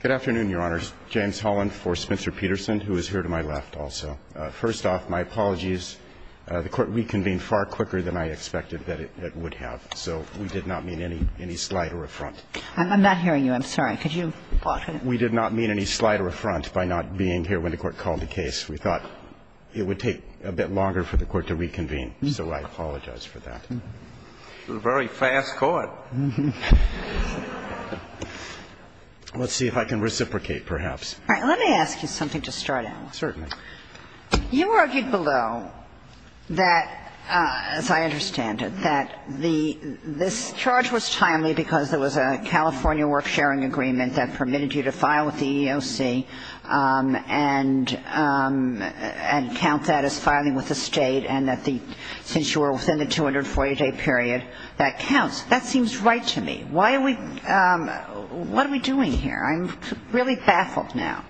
Good afternoon, Your Honors. James Holland for Spencer-Peterson, who is here to my left also. First off, my apologies. The Court reconvened far quicker than I expected that it would have, so we did not mean any slight or affront. I'm not hearing you. I'm sorry. Could you talk? We did not mean any slight or affront by not being here when the Court called the case. We thought it would take a bit longer for the Court to reconvene, so I apologize for that. You were very fast caught. Let's see if I can reciprocate, perhaps. All right. Let me ask you something to start out with. Certainly. You argued below that, as I understand it, that this charge was timely because there was a California work-sharing agreement that permitted you to file with the EEOC and count that as filing with the State, and that since you were within the 240-day period, that counts. That seems right to me. Why are we what are we doing here? I'm really baffled now.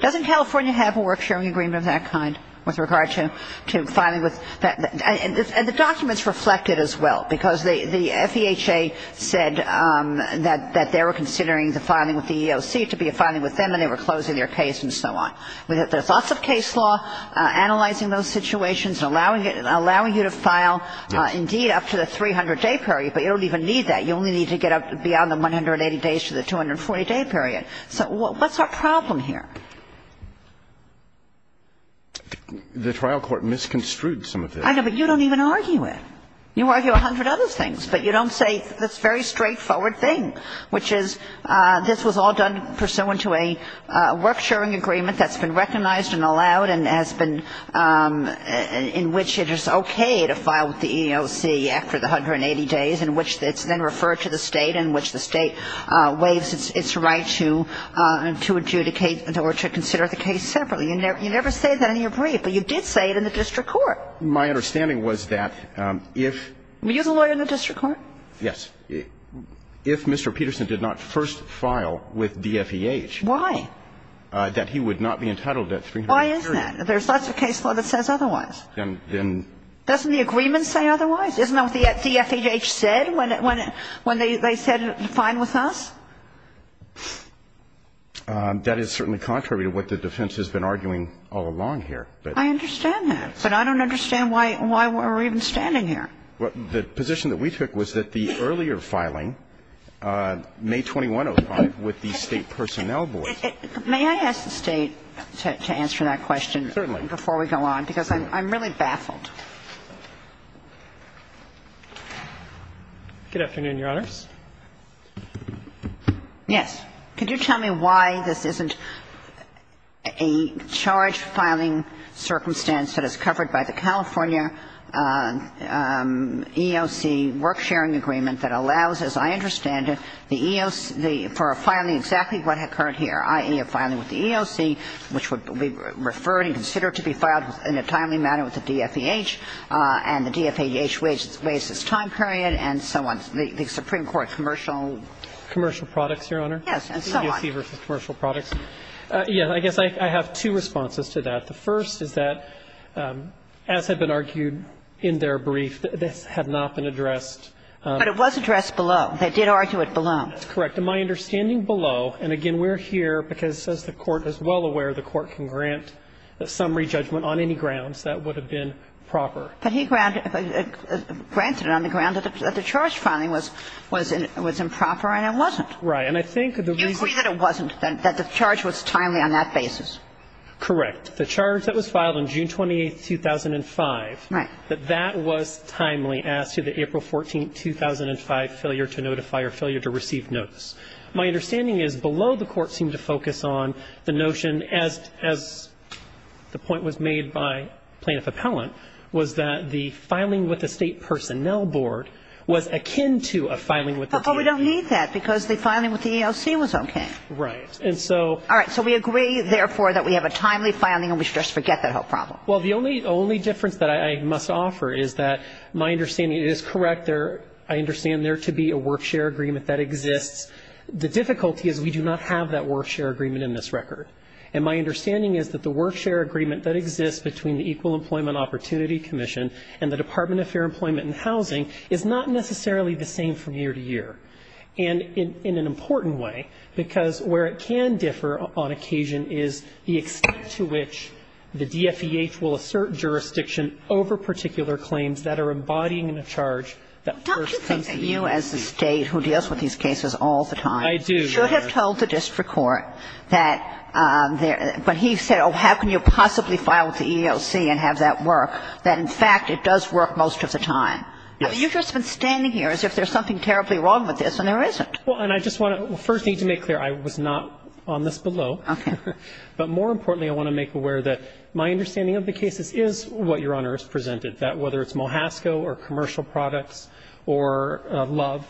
Doesn't California have a work-sharing agreement of that kind with regard to filing with And the documents reflect it as well, because the FEHA said that they were considering the filing with the EEOC to be a filing with them, and they were closing their case and so on. We have lots of case law analyzing those situations and allowing you to file indeed up to the 300-day period, but you don't even need that. You only need to get up beyond the 180 days to the 240-day period. So what's our problem here? The trial court misconstrued some of this. I know, but you don't even argue it. You argue a hundred other things, but you don't say this very straightforward thing, which is this was all done pursuant to a work-sharing agreement that's been recognized and allowed and has been in which it is okay to file with the EEOC after the 180 days, in which it's then referred to the State, in which the State waives its right to adjudicate or to consider the case separately. You never say that in your brief, but you did say it in the district court. My understanding was that if Were you the lawyer in the district court? Yes. If Mr. Peterson did not first file with DFEH Why? That he would not be entitled to that 300-day period. Why is that? There's lots of case law that says otherwise. Then Doesn't the agreement say otherwise? Isn't that what the DFEH said when they said it was fine with us? That is certainly contrary to what the defense has been arguing all along here. I understand that, but I don't understand why we're even standing here. The position that we took was that the earlier filing, May 2105, with the State personnel board May I ask the State to answer that question? Certainly. Before we go on, because I'm really baffled. Good afternoon, Your Honors. Yes. Could you tell me why this isn't a charge-filing circumstance that is covered by the California EEOC work-sharing agreement that allows, as I understand it, the EEOC for filing exactly what occurred here, i.e., a filing with the EEOC, which would be referred and considered to be filed in a timely manner with the DFEH and the DFEH raises time period and so on, the Supreme Court commercial Commercial products, Your Honor? Yes, and so on. EEOC versus commercial products. Yes. I guess I have two responses to that. The first is that, as had been argued in their brief, this had not been addressed But it was addressed below. They did argue it below. That's correct. And my understanding below, and again, we're here because, as the Court is well aware, the Court can grant a summary judgment on any grounds that would have been proper. But he granted it on the grounds that the charge-filing was improper and it wasn't. Right. And I think the reason You agree that it wasn't, that the charge was timely on that basis. Correct. The charge that was filed on June 28th, 2005. Right. That that was timely as to the April 14th, 2005 failure to notify or failure to receive notice. My understanding is below the Court seemed to focus on the notion, as the point was made by Plaintiff Appellant, was that the filing with the State Personnel Board was akin to a filing with the DFEH. But we don't need that because the filing with the EEOC was okay. Right. And so All right. So we agree, therefore, that we have a timely filing and we should just forget that whole problem. Well, the only difference that I must offer is that my understanding is correct. I understand there to be a work-share agreement that exists. The difficulty is we do not have that work-share agreement in this record. And my understanding is that the work-share agreement that exists between the Equal Employment Opportunity Commission and the Department of Fair Employment and Housing is not necessarily the same from year to year. And in an important way, because where it can differ on occasion is the extent to which the DFEH will assert jurisdiction over particular claims that are embodying a charge that first comes to the EEOC. Well, don't you think that you as the State who deals with these cases all the time I do, Your Honor. should have told the district court that when he said, oh, how can you possibly file with the EEOC and have that work, that in fact it does work most of the time? Well, you've just been standing here as if there's something terribly wrong with this, and there isn't. Well, and I just want to first need to make clear I was not on this below. Okay. But more importantly, I want to make aware that my understanding of the cases is what Your Honor has presented, that whether it's Mohasco or commercial products or Love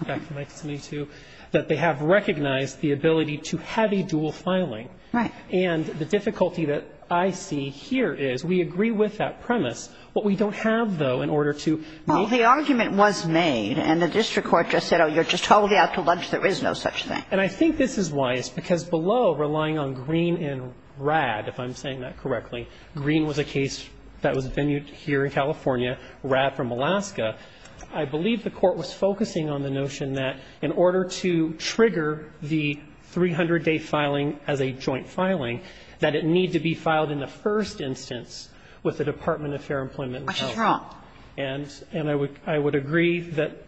back in 1972, that they have recognized the ability to have a dual filing. Right. And the difficulty that I see here is we agree with that premise. What we don't have, though, in order to make the argument was made and the district court just said, oh, you're just totally out to lunch, there is no such thing. And I think this is why. It's because below, relying on Green and Rad, if I'm saying that correctly, Green was a case that was venued here in California, Rad from Alaska. I believe the Court was focusing on the notion that in order to trigger the 300-day filing as a joint filing, that it need to be filed in the first instance with the Department of Fair Employment and Health. What is wrong? And I would agree that,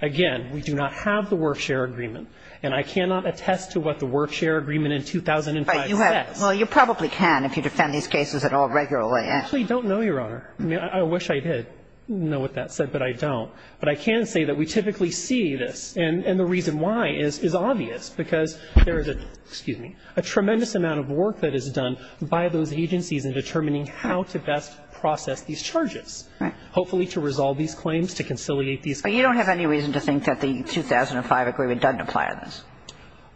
again, we do not have the work-share agreement. And I cannot attest to what the work-share agreement in 2005 says. But you have to. Well, you probably can if you defend these cases at all regularly. I actually don't know, Your Honor. I mean, I wish I did know what that said, but I don't. But I can say that we typically see this. And the reason why is obvious, because there is a tremendous amount of work that is required by those agencies in determining how to best process these charges. Right. Hopefully to resolve these claims, to conciliate these claims. But you don't have any reason to think that the 2005 agreement doesn't apply to this?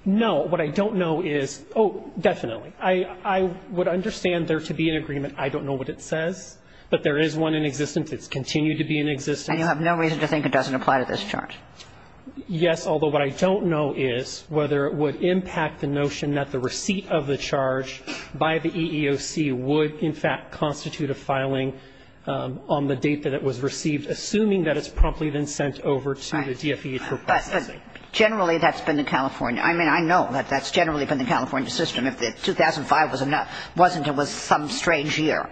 No. What I don't know is oh, definitely. I would understand there to be an agreement. I don't know what it says. But there is one in existence. It's continued to be in existence. And you have no reason to think it doesn't apply to this charge? Yes, although what I don't know is whether it would impact the notion that the receipt of the charge by the EEOC would in fact constitute a filing on the date that it was received, assuming that it's promptly then sent over to the DFE for processing. Generally, that's been the California. I mean, I know that that's generally been the California system. If the 2005 wasn't, it was some strange year.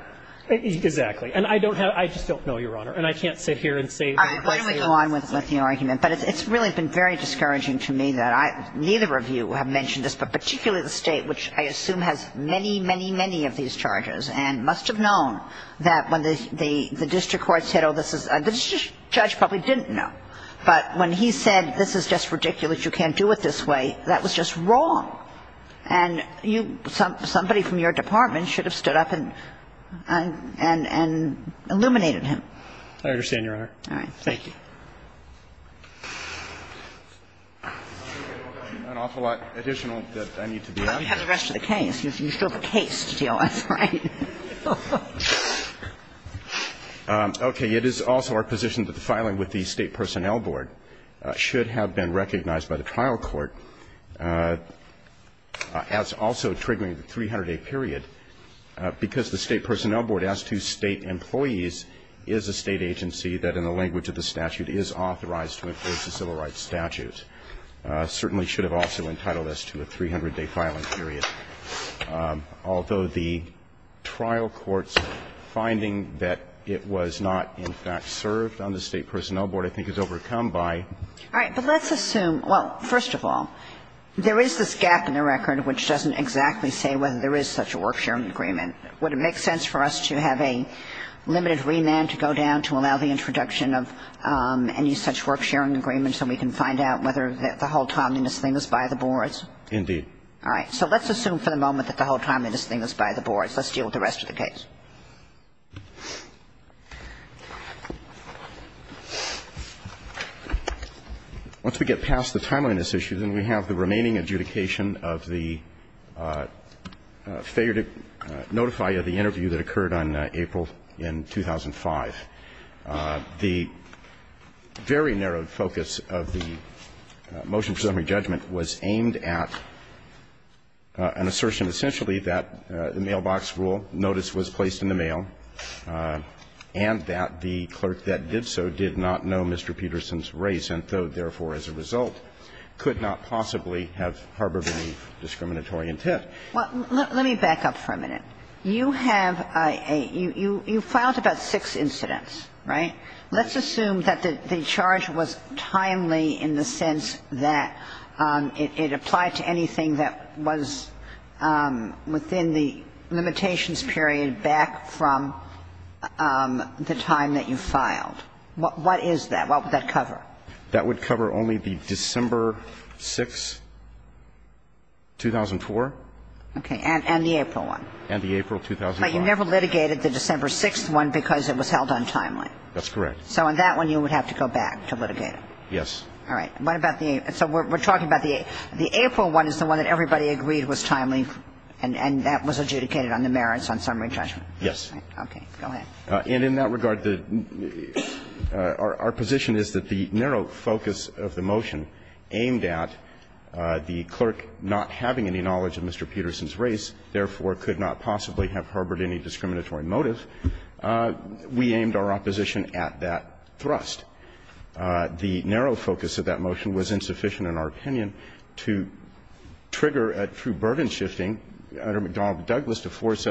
Exactly. And I just don't know, Your Honor. And I can't sit here and say. Why don't we go on with the argument? But it's really been very discouraging to me that neither of you have mentioned this, but particularly the State, which I assume has many, many, many of these charges and must have known that when the district court said oh, this is... The judge probably didn't know. But when he said this is just ridiculous, you can't do it this way, that was just wrong. And somebody from your department should have stood up and illuminated him. I understand, Your Honor. All right. Thank you. An awful lot additional that I need to be asked. You have the rest of the case. You still have a case to deal with, right? Okay. It is also our position that the filing with the State Personnel Board should have been recognized by the trial court as also triggering the 300-day period because the State Personnel Board, as to State employees, is a State agency that in the language of the statute is authorized to enforce a civil rights statute. It certainly should have also entitled us to a 300-day filing period, although the trial court's finding that it was not in fact served on the State Personnel Board I think is overcome by... All right. But let's assume... Well, first of all, there is this gap in the record which doesn't exactly say whether there is such a work-sharing agreement. Would it make sense for us to have a limited remand to go down to allow the introduction of any such work-sharing agreement so we can find out whether the whole timeliness thing is by the boards? Indeed. All right. So let's assume for the moment that the whole timeliness thing is by the boards. Let's deal with the rest of the case. Once we get past the timeliness issue, then we have the remaining adjudication of the failure to notify of the interview that occurred on April in 2005. The very narrow focus of the motion for summary judgment was aimed at an assertion essentially that the mailbox rule notice was placed in the mail and that the clerk that did so did not know Mr. Peterson's race and, therefore, as a result, could not possibly have harbored any discriminatory intent. Well, let me back up for a minute. You have a – you filed about six incidents, right? Let's assume that the charge was timely in the sense that it applied to anything that was within the limitations period back from the time that you filed. What is that? What would that cover? That would cover only the December 6th, 2004. Okay. And the April one. And the April 2005. But you never litigated the December 6th one because it was held untimely. That's correct. So on that one, you would have to go back to litigate it. Yes. All right. What about the – so we're talking about the April one is the one that everybody agreed was timely and that was adjudicated on the merits on summary judgment. Yes. Okay. Go ahead. And in that regard, the – our position is that the narrow focus of the motion aimed at the clerk not having any knowledge of Mr. Peterson's race, therefore could not possibly have harbored any discriminatory motive, we aimed our opposition at that thrust. The narrow focus of that motion was insufficient in our opinion to trigger a true And that's not to say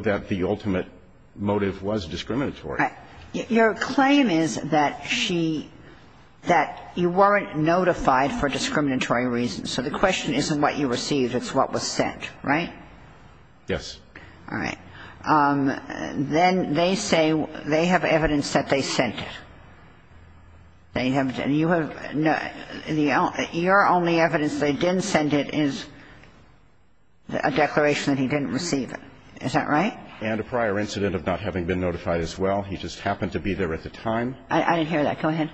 that the motive was discriminatory. Right. Your claim is that she – that you weren't notified for discriminatory reasons. So the question isn't what you received. It's what was sent. Right? Yes. All right. Then they say they have evidence that they sent it. They have – and you have – your only evidence they didn't send it is a declaration that he didn't receive it. Is that right? And a prior incident of not having been notified as well. He just happened to be there at the time. I didn't hear that. Go ahead.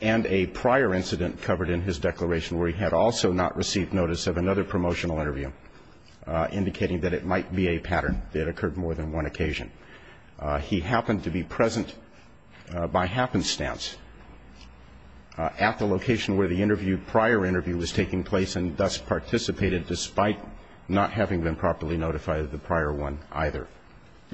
And a prior incident covered in his declaration where he had also not received notice of another promotional interview indicating that it might be a pattern that occurred more than one occasion. He happened to be present by happenstance at the location where the interview – prior interview was taking place and thus participated, despite not having been properly notified of the prior one either.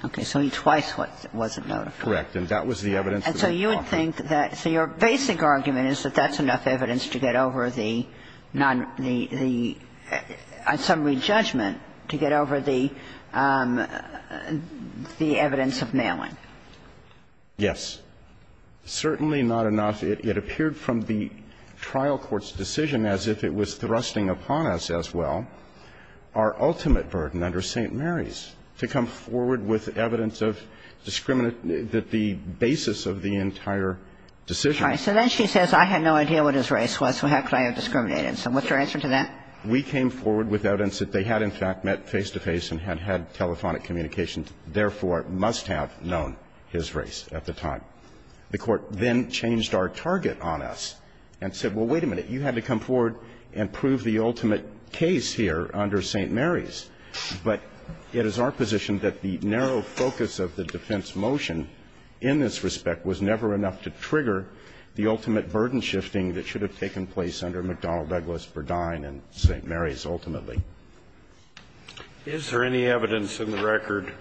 Okay. So he twice wasn't notified. Correct. And that was the evidence that was offered. And so you would think that – so your basic argument is that that's enough evidence to get over the non – the – on summary judgment to get over the evidence of nailing. Yes. Certainly not enough. It appeared from the trial court's decision as if it was thrusting upon us as well our ultimate burden under St. Mary's to come forward with evidence of discriminant – the basis of the entire decision. All right. So then she says, I had no idea what his race was, so how could I have discriminated? So what's your answer to that? We came forward with evidence that they had in fact met face-to-face and had had telephonic communications, therefore must have known his race at the time. The Court then changed our target on us and said, well, wait a minute, you had to come forward and prove the ultimate case here under St. Mary's. But it is our position that the narrow focus of the defense motion in this respect was never enough to trigger the ultimate burden shifting that should have taken place under McDonnell, Douglas, Burdine, and St. Mary's ultimately. Is there any evidence in the record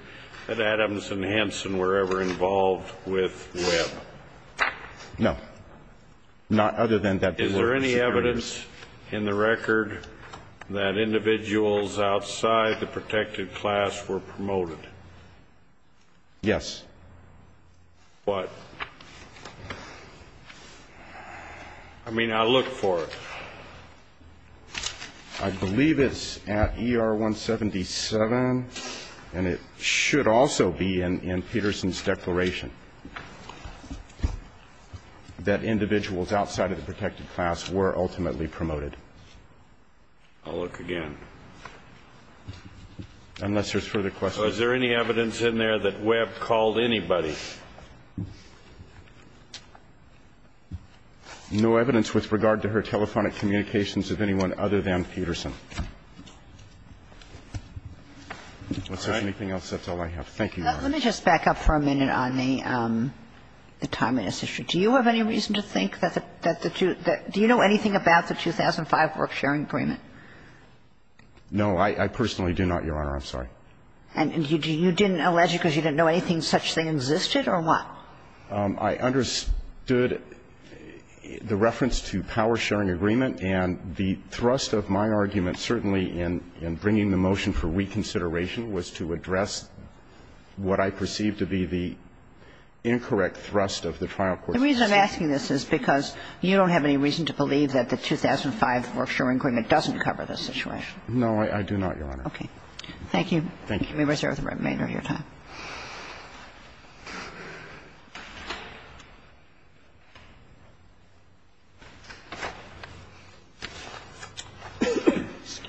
that Adams and Hanson were ever involved with Webb? Not other than that they were persecutors. Is there any evidence in the record that individuals outside the protected class were promoted? Yes. What? I mean, I'll look for it. I believe it's at ER 177, and it should also be in Peterson's declaration, that individuals outside of the protected class were ultimately promoted. I'll look again. Unless there's further questions. So is there any evidence in there that Webb called anybody? No evidence with regard to her telephonic communications of anyone other than Peterson. Is there anything else? That's all I have. Thank you, Your Honor. Let me just back up for a minute on the timeliness issue. Do you have any reason to think that the two do you know anything about the 2005 work-sharing agreement? No, I personally do not, Your Honor. I'm sorry. And you didn't allege it because you didn't know anything such that existed, or what? I understood the reference to power-sharing agreement, and the thrust of my argument certainly in bringing the motion for reconsideration was to address what I perceived to be the incorrect thrust of the trial court's decision. The reason I'm asking this is because you don't have any reason to believe that the 2005 work-sharing agreement doesn't cover this situation. No, I do not, Your Honor. Okay. Thank you. Thank you. Members, you have the remainder of your time.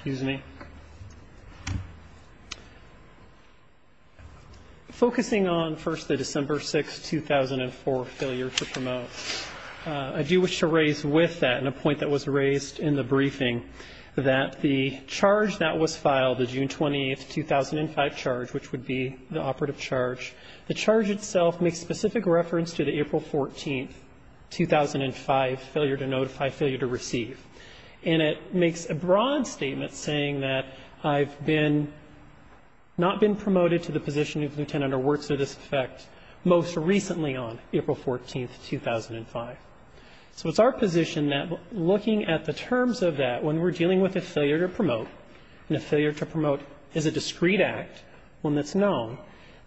Excuse me. Focusing on, first, the December 6, 2004 failure to promote, I do wish to raise with that, and a point that was raised in the briefing, that the charge that was filed, the June 20, 2005 charge, which would be the operative charge, the charge itself makes specific reference to the April 14, 2005, failure to notify, failure to receive. And it makes a broad statement saying that I've been, not been promoted to the position of lieutenant or works to this effect most recently on April 14, 2005. So it's our position that, looking at the terms of that, when we're dealing with a failure to promote, and a failure to promote is a discreet act, one that's known,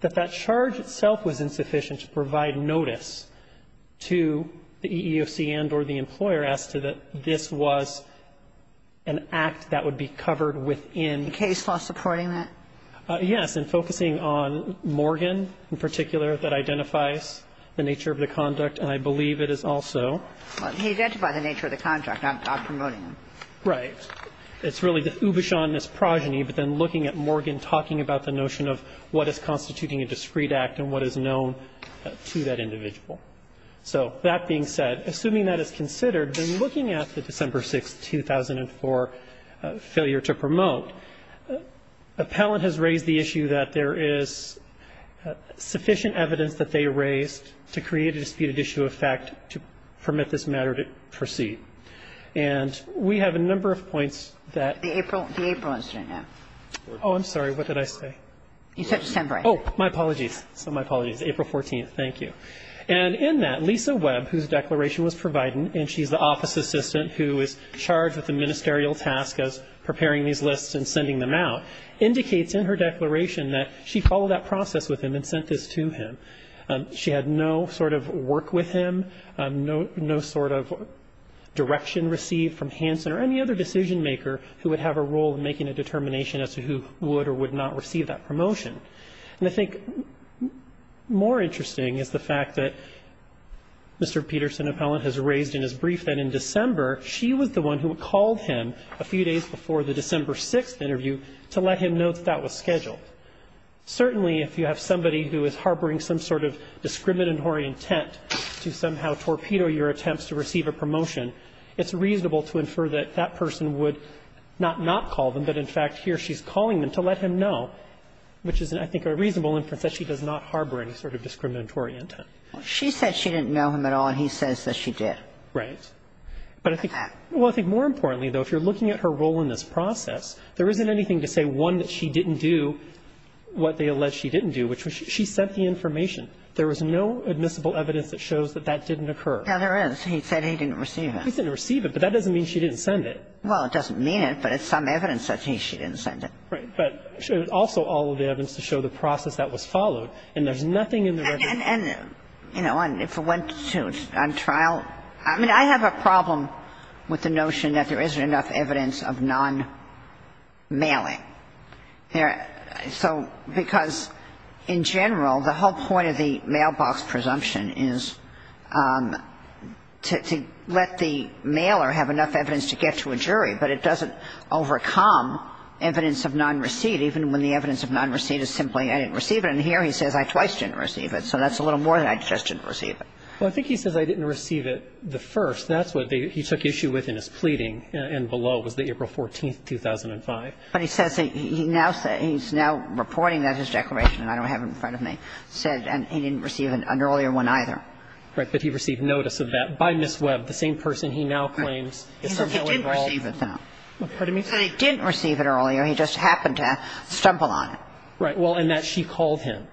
that that charge itself was insufficient to provide notice to the EEOC and or the employer as to that this was an act that would be covered within. The case law supporting that? Yes. And focusing on Morgan in particular that identifies the nature of the conduct, and I believe it is also. Well, he identified the nature of the contract. I'm promoting him. Right. It's really the ubishonest progeny, but then looking at Morgan talking about the notion of what is constituting a discreet act and what is known to that individual. So that being said, assuming that is considered, then looking at the December 6, 2004 failure to promote, appellant has raised the issue that there is sufficient evidence that they raised to create a disputed issue of fact to permit this matter to proceed. And we have a number of points that the April incident. Oh, I'm sorry. What did I say? You said December. Oh, my apologies. So my apologies. April 14th. Thank you. And in that, Lisa Webb, whose declaration was provided, and she's the office assistant who is charged with the ministerial task of preparing these lists and sending them out, indicates in her declaration that she followed that process with him and sent this to him. She had no sort of work with him, no sort of direction received from Hansen or any other decision maker who would have a role in making a determination as to who would or would not receive that promotion. And I think more interesting is the fact that Mr. Peterson, appellant, has raised in his brief that in December, she was the one who called him a few days before the December 6th interview to let him know that that was scheduled. Certainly, if you have somebody who is harboring some sort of discriminatory intent to somehow torpedo your attempts to receive a promotion, it's reasonable to infer that that person would not not call them, but in fact, here she's calling them to let him know, which is, I think, a reasonable inference that she does not harbor any sort of discriminatory intent. Well, she said she didn't know him at all, and he says that she did. Right. But I think more importantly, though, if you're looking at her role in this process, there isn't anything to say, one, that she didn't do what they allege she didn't do, which was she sent the information. There was no admissible evidence that shows that that didn't occur. Yeah, there is. He said he didn't receive it. He said he didn't receive it, but that doesn't mean she didn't send it. Well, it doesn't mean it, but it's some evidence that she didn't send it. Right. But also all of the evidence to show the process that was followed, and there's nothing in the record. And, you know, if it went to trial, I mean, I have a problem with the notion that there isn't enough evidence of non-mailing. So because in general, the whole point of the mailbox presumption is to let the mailer have enough evidence to get to a jury, but it doesn't overcome evidence of non-receipt even when the evidence of non-receipt is simply I didn't receive it. And here he says I twice didn't receive it, so that's a little more than I just didn't receive it. Well, I think he says I didn't receive it the first. That's what he took issue with in his pleading, and below was the April 14th, 2005. But he says he now says he's now reporting that his declaration, and I don't have it in front of me, said he didn't receive an earlier one either. Right. But he received notice of that by Ms. Webb, the same person he now claims is somehow involved. He said he didn't receive it, though. What do you mean? He said he didn't receive it earlier. He just happened to stumble on it. Right. Well, and that she called him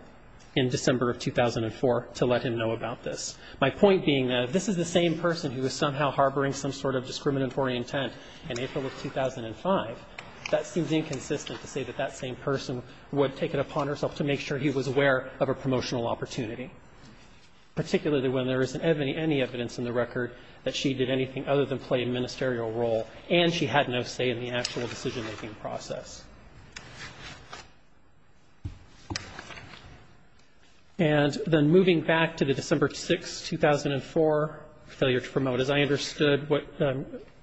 in December of 2004 to let him know about this. My point being that if this is the same person who is somehow harboring some sort of discriminatory intent in April of 2005, that seems inconsistent to say that that same person would take it upon herself to make sure he was aware of a promotional opportunity, particularly when there isn't any evidence in the record that she did anything other than play a ministerial role and she had no say in the actual decision making process. And then moving back to the December 6, 2004 failure to promote, as I understood what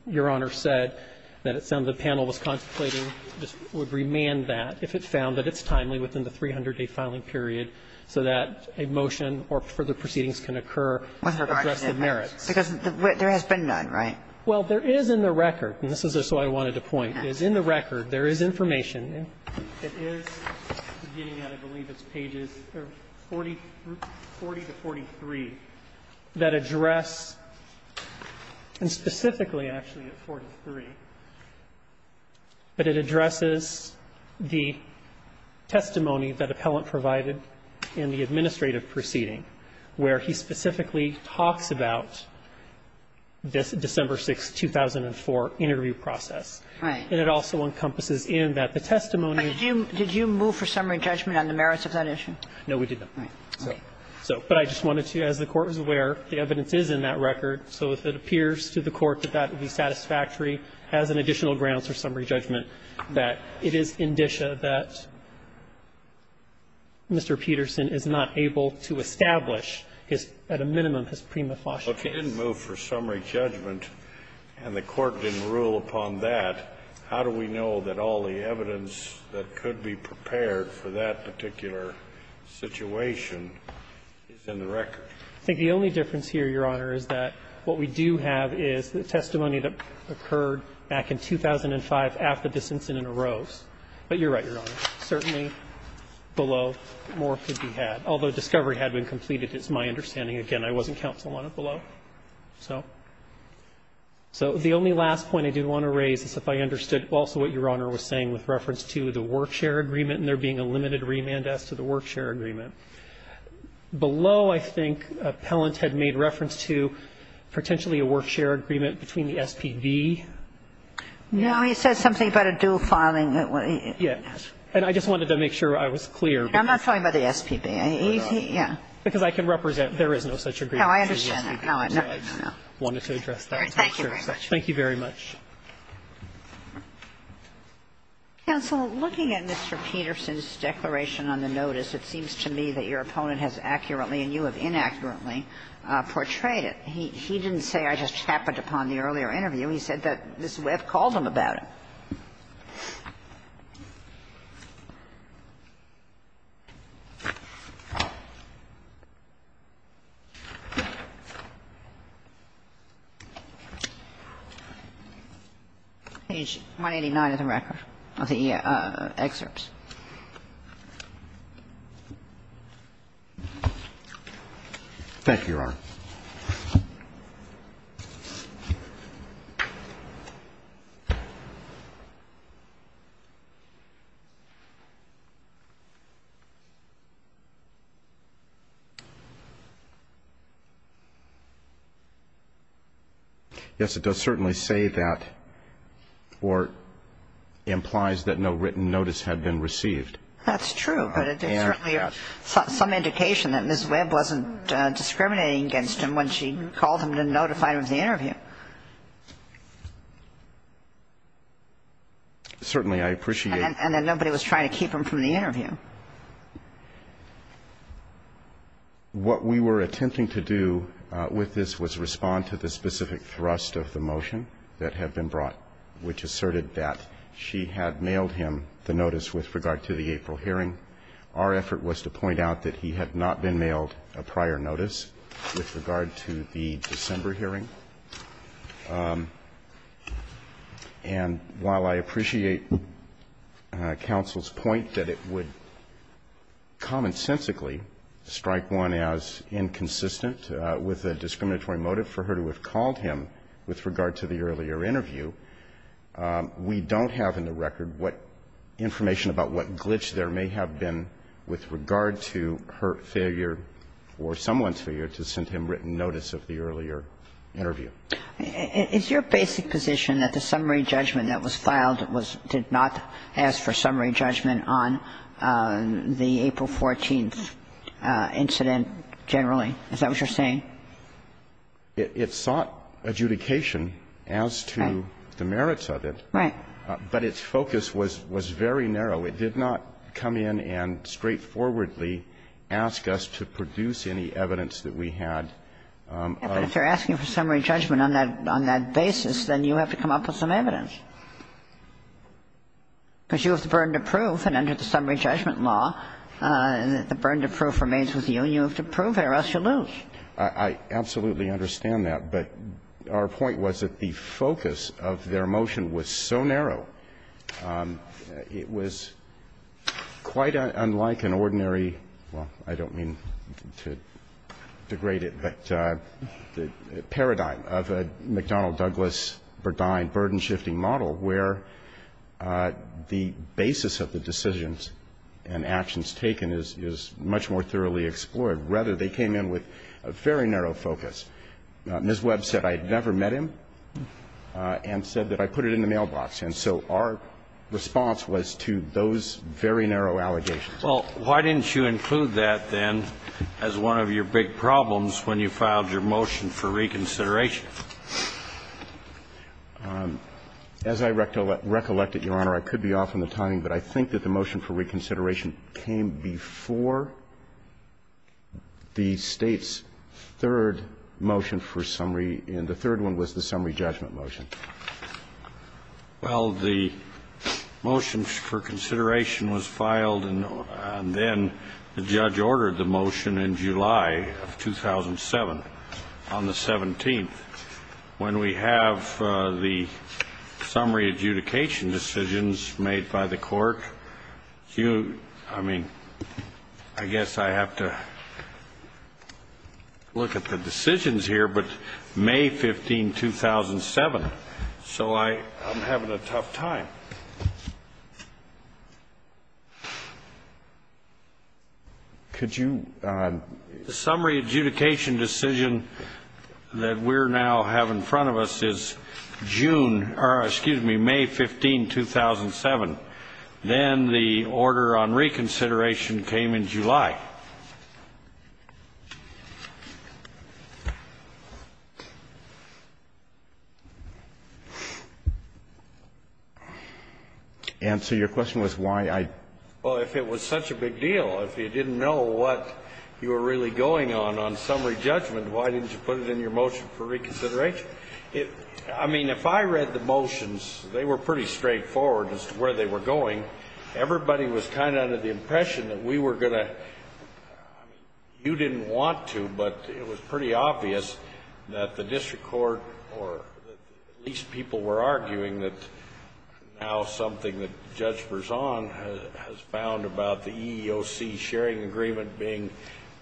Your Honor said, that it sounded the panel was contemplating, just would remand that if it found that it's timely within the 300-day filing period so that a motion or further proceedings can occur with regard to the merits. Because there has been none, right? Well, there is in the record, and this is just what I wanted to point, is in the record there is information. It is beginning at, I believe, it's pages 40 to 43 that address, and specifically actually at 43, that it addresses the testimony that appellant provided in the administrative proceeding, where he specifically talks about this December 6, 2004 interview process. Right. And it also encompasses in that the testimony. Did you move for summary judgment on the merits of that issue? No, we did not. Right. So, but I just wanted to, as the Court is aware, the evidence is in that record. So if it appears to the Court that that would be satisfactory as an additional grounds for summary judgment, that it is indicia that Mr. Peterson is not able to establish his, at a minimum, his prima facie case. So if you didn't move for summary judgment and the Court didn't rule upon that, how do we know that all the evidence that could be prepared for that particular situation is in the record? I think the only difference here, Your Honor, is that what we do have is the testimony that occurred back in 2005 after this incident arose. But you're right, Your Honor. Certainly below, more could be had. Although discovery had been completed, it's my understanding. Again, I wasn't counsel on it below. So the only last point I did want to raise is if I understood also what Your Honor was saying with reference to the work share agreement and there being a limited remand as to the work share agreement. Below, I think, Appellant had made reference to potentially a work share agreement between the SPB. No, he said something about a due filing. Yes. And I just wanted to make sure I was clear. I'm not talking about the SPB. Because I can represent there is no such agreement. No, I understand. I wanted to address that. Thank you very much. Thank you very much. Counsel, looking at Mr. Peterson's declaration on the notice, it seems to me that your opponent has accurately and you have inaccurately portrayed it. He didn't say, I just happened upon the earlier interview. He said that this Webb called him about it. Page 189 of the record, of the excerpts. Yes, it does certainly say that, or implies that no written notice had been received. That's true. But it's certainly some indication that Ms. Webb wasn't discriminating against him when she called him to notify him of the interview. Certainly, I appreciate that. And that nobody was trying to keep him from the interview. What we were attempting to do with this was respond to the specific thrust of the motion that had been brought, which asserted that she had mailed him the notice with regard to the April hearing. Our effort was to point out that he had not been mailed a prior notice with regard to the December hearing. And while I appreciate counsel's point that it would commonsensically strike one as inconsistent with a discriminatory motive for her to have called him with regard to the earlier interview, we don't have in the record what information about what glitch there may have been with regard to her failure or someone's failure to send him written notice of the earlier interview. Is your basic position that the summary judgment that was filed was to not ask for summary judgment on the April 14th incident generally? Is that what you're saying? It sought adjudication as to the merits of it. Right. But its focus was very narrow. It did not come in and straightforwardly ask us to produce any evidence that we had of the case. But if you're asking for summary judgment on that basis, then you have to come up with some evidence. Because you have the burden of proof, and under the summary judgment law, the burden of proof remains with you and you have to prove it or else you lose. I absolutely understand that. But our point was that the focus of their motion was so narrow, it was quite unlike an ordinary, well, I don't mean to degrade it, but paradigm of a McDonnell-Douglas Burdine burden-shifting model where the basis of the decisions and actions taken is much more thoroughly explored. Rather, they came in with a very narrow focus. Ms. Webb said I had never met him and said that I put it in the mailbox. And so our response was to those very narrow allegations. Well, why didn't you include that, then, as one of your big problems when you filed your motion for reconsideration? As I recollected, Your Honor, I could be off on the timing, but I think that the motion for reconsideration came before the State's third motion for summary, and the third one was the summary judgment motion. Well, the motion for consideration was filed, and then the judge ordered the motion in July of 2007 on the 17th. When we have the summary adjudication decisions made by the court, I mean, I guess I have to look at the decisions here, but May 15, 2007, so I'm having a tough time. Could you? The summary adjudication decision that we're now have in front of us is June or, excuse me, May 15, 2007. Then the order on reconsideration came in July. Answer your question was why I? Well, if it was such a big deal, if you didn't know what you were really going on on summary judgment, why didn't you put it in your motion for reconsideration? I mean, if I read the motions, they were pretty straightforward as to where they were going. Everybody was kind of under the impression that we were going to you didn't want to, but it was pretty obvious that the district court or at least people were arguing that now something that Judge Berzon has found about the EEOC sharing agreement being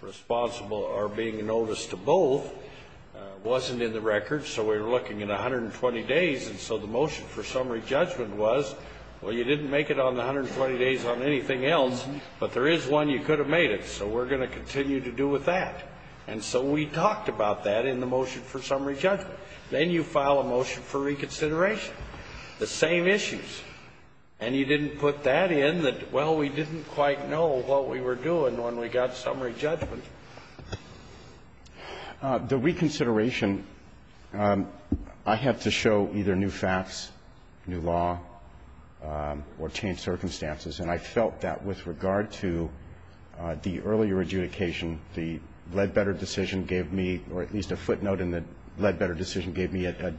responsible or being a notice to both wasn't in the record. So we were looking at 120 days, and so the motion for summary judgment was, well, you didn't make it on the 120 days on anything else, but there is one you could have made it. So we're going to continue to do with that. And so we talked about that in the motion for summary judgment. Then you file a motion for reconsideration, the same issues, and you didn't put that in that, well, we didn't quite know what we were doing when we got summary judgment. The reconsideration, I had to show either new facts, new law, or change circumstances. And I felt that with regard to the earlier adjudication, the Ledbetter decision gave me, or at least a footnote in the Ledbetter decision gave me a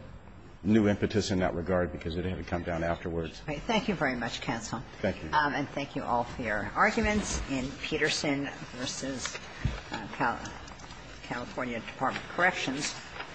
new impetus in that regard because it had to come down afterwards. Thank you very much, counsel. Thank you. And thank you all for your arguments in Peterson v. California Department of Corrections.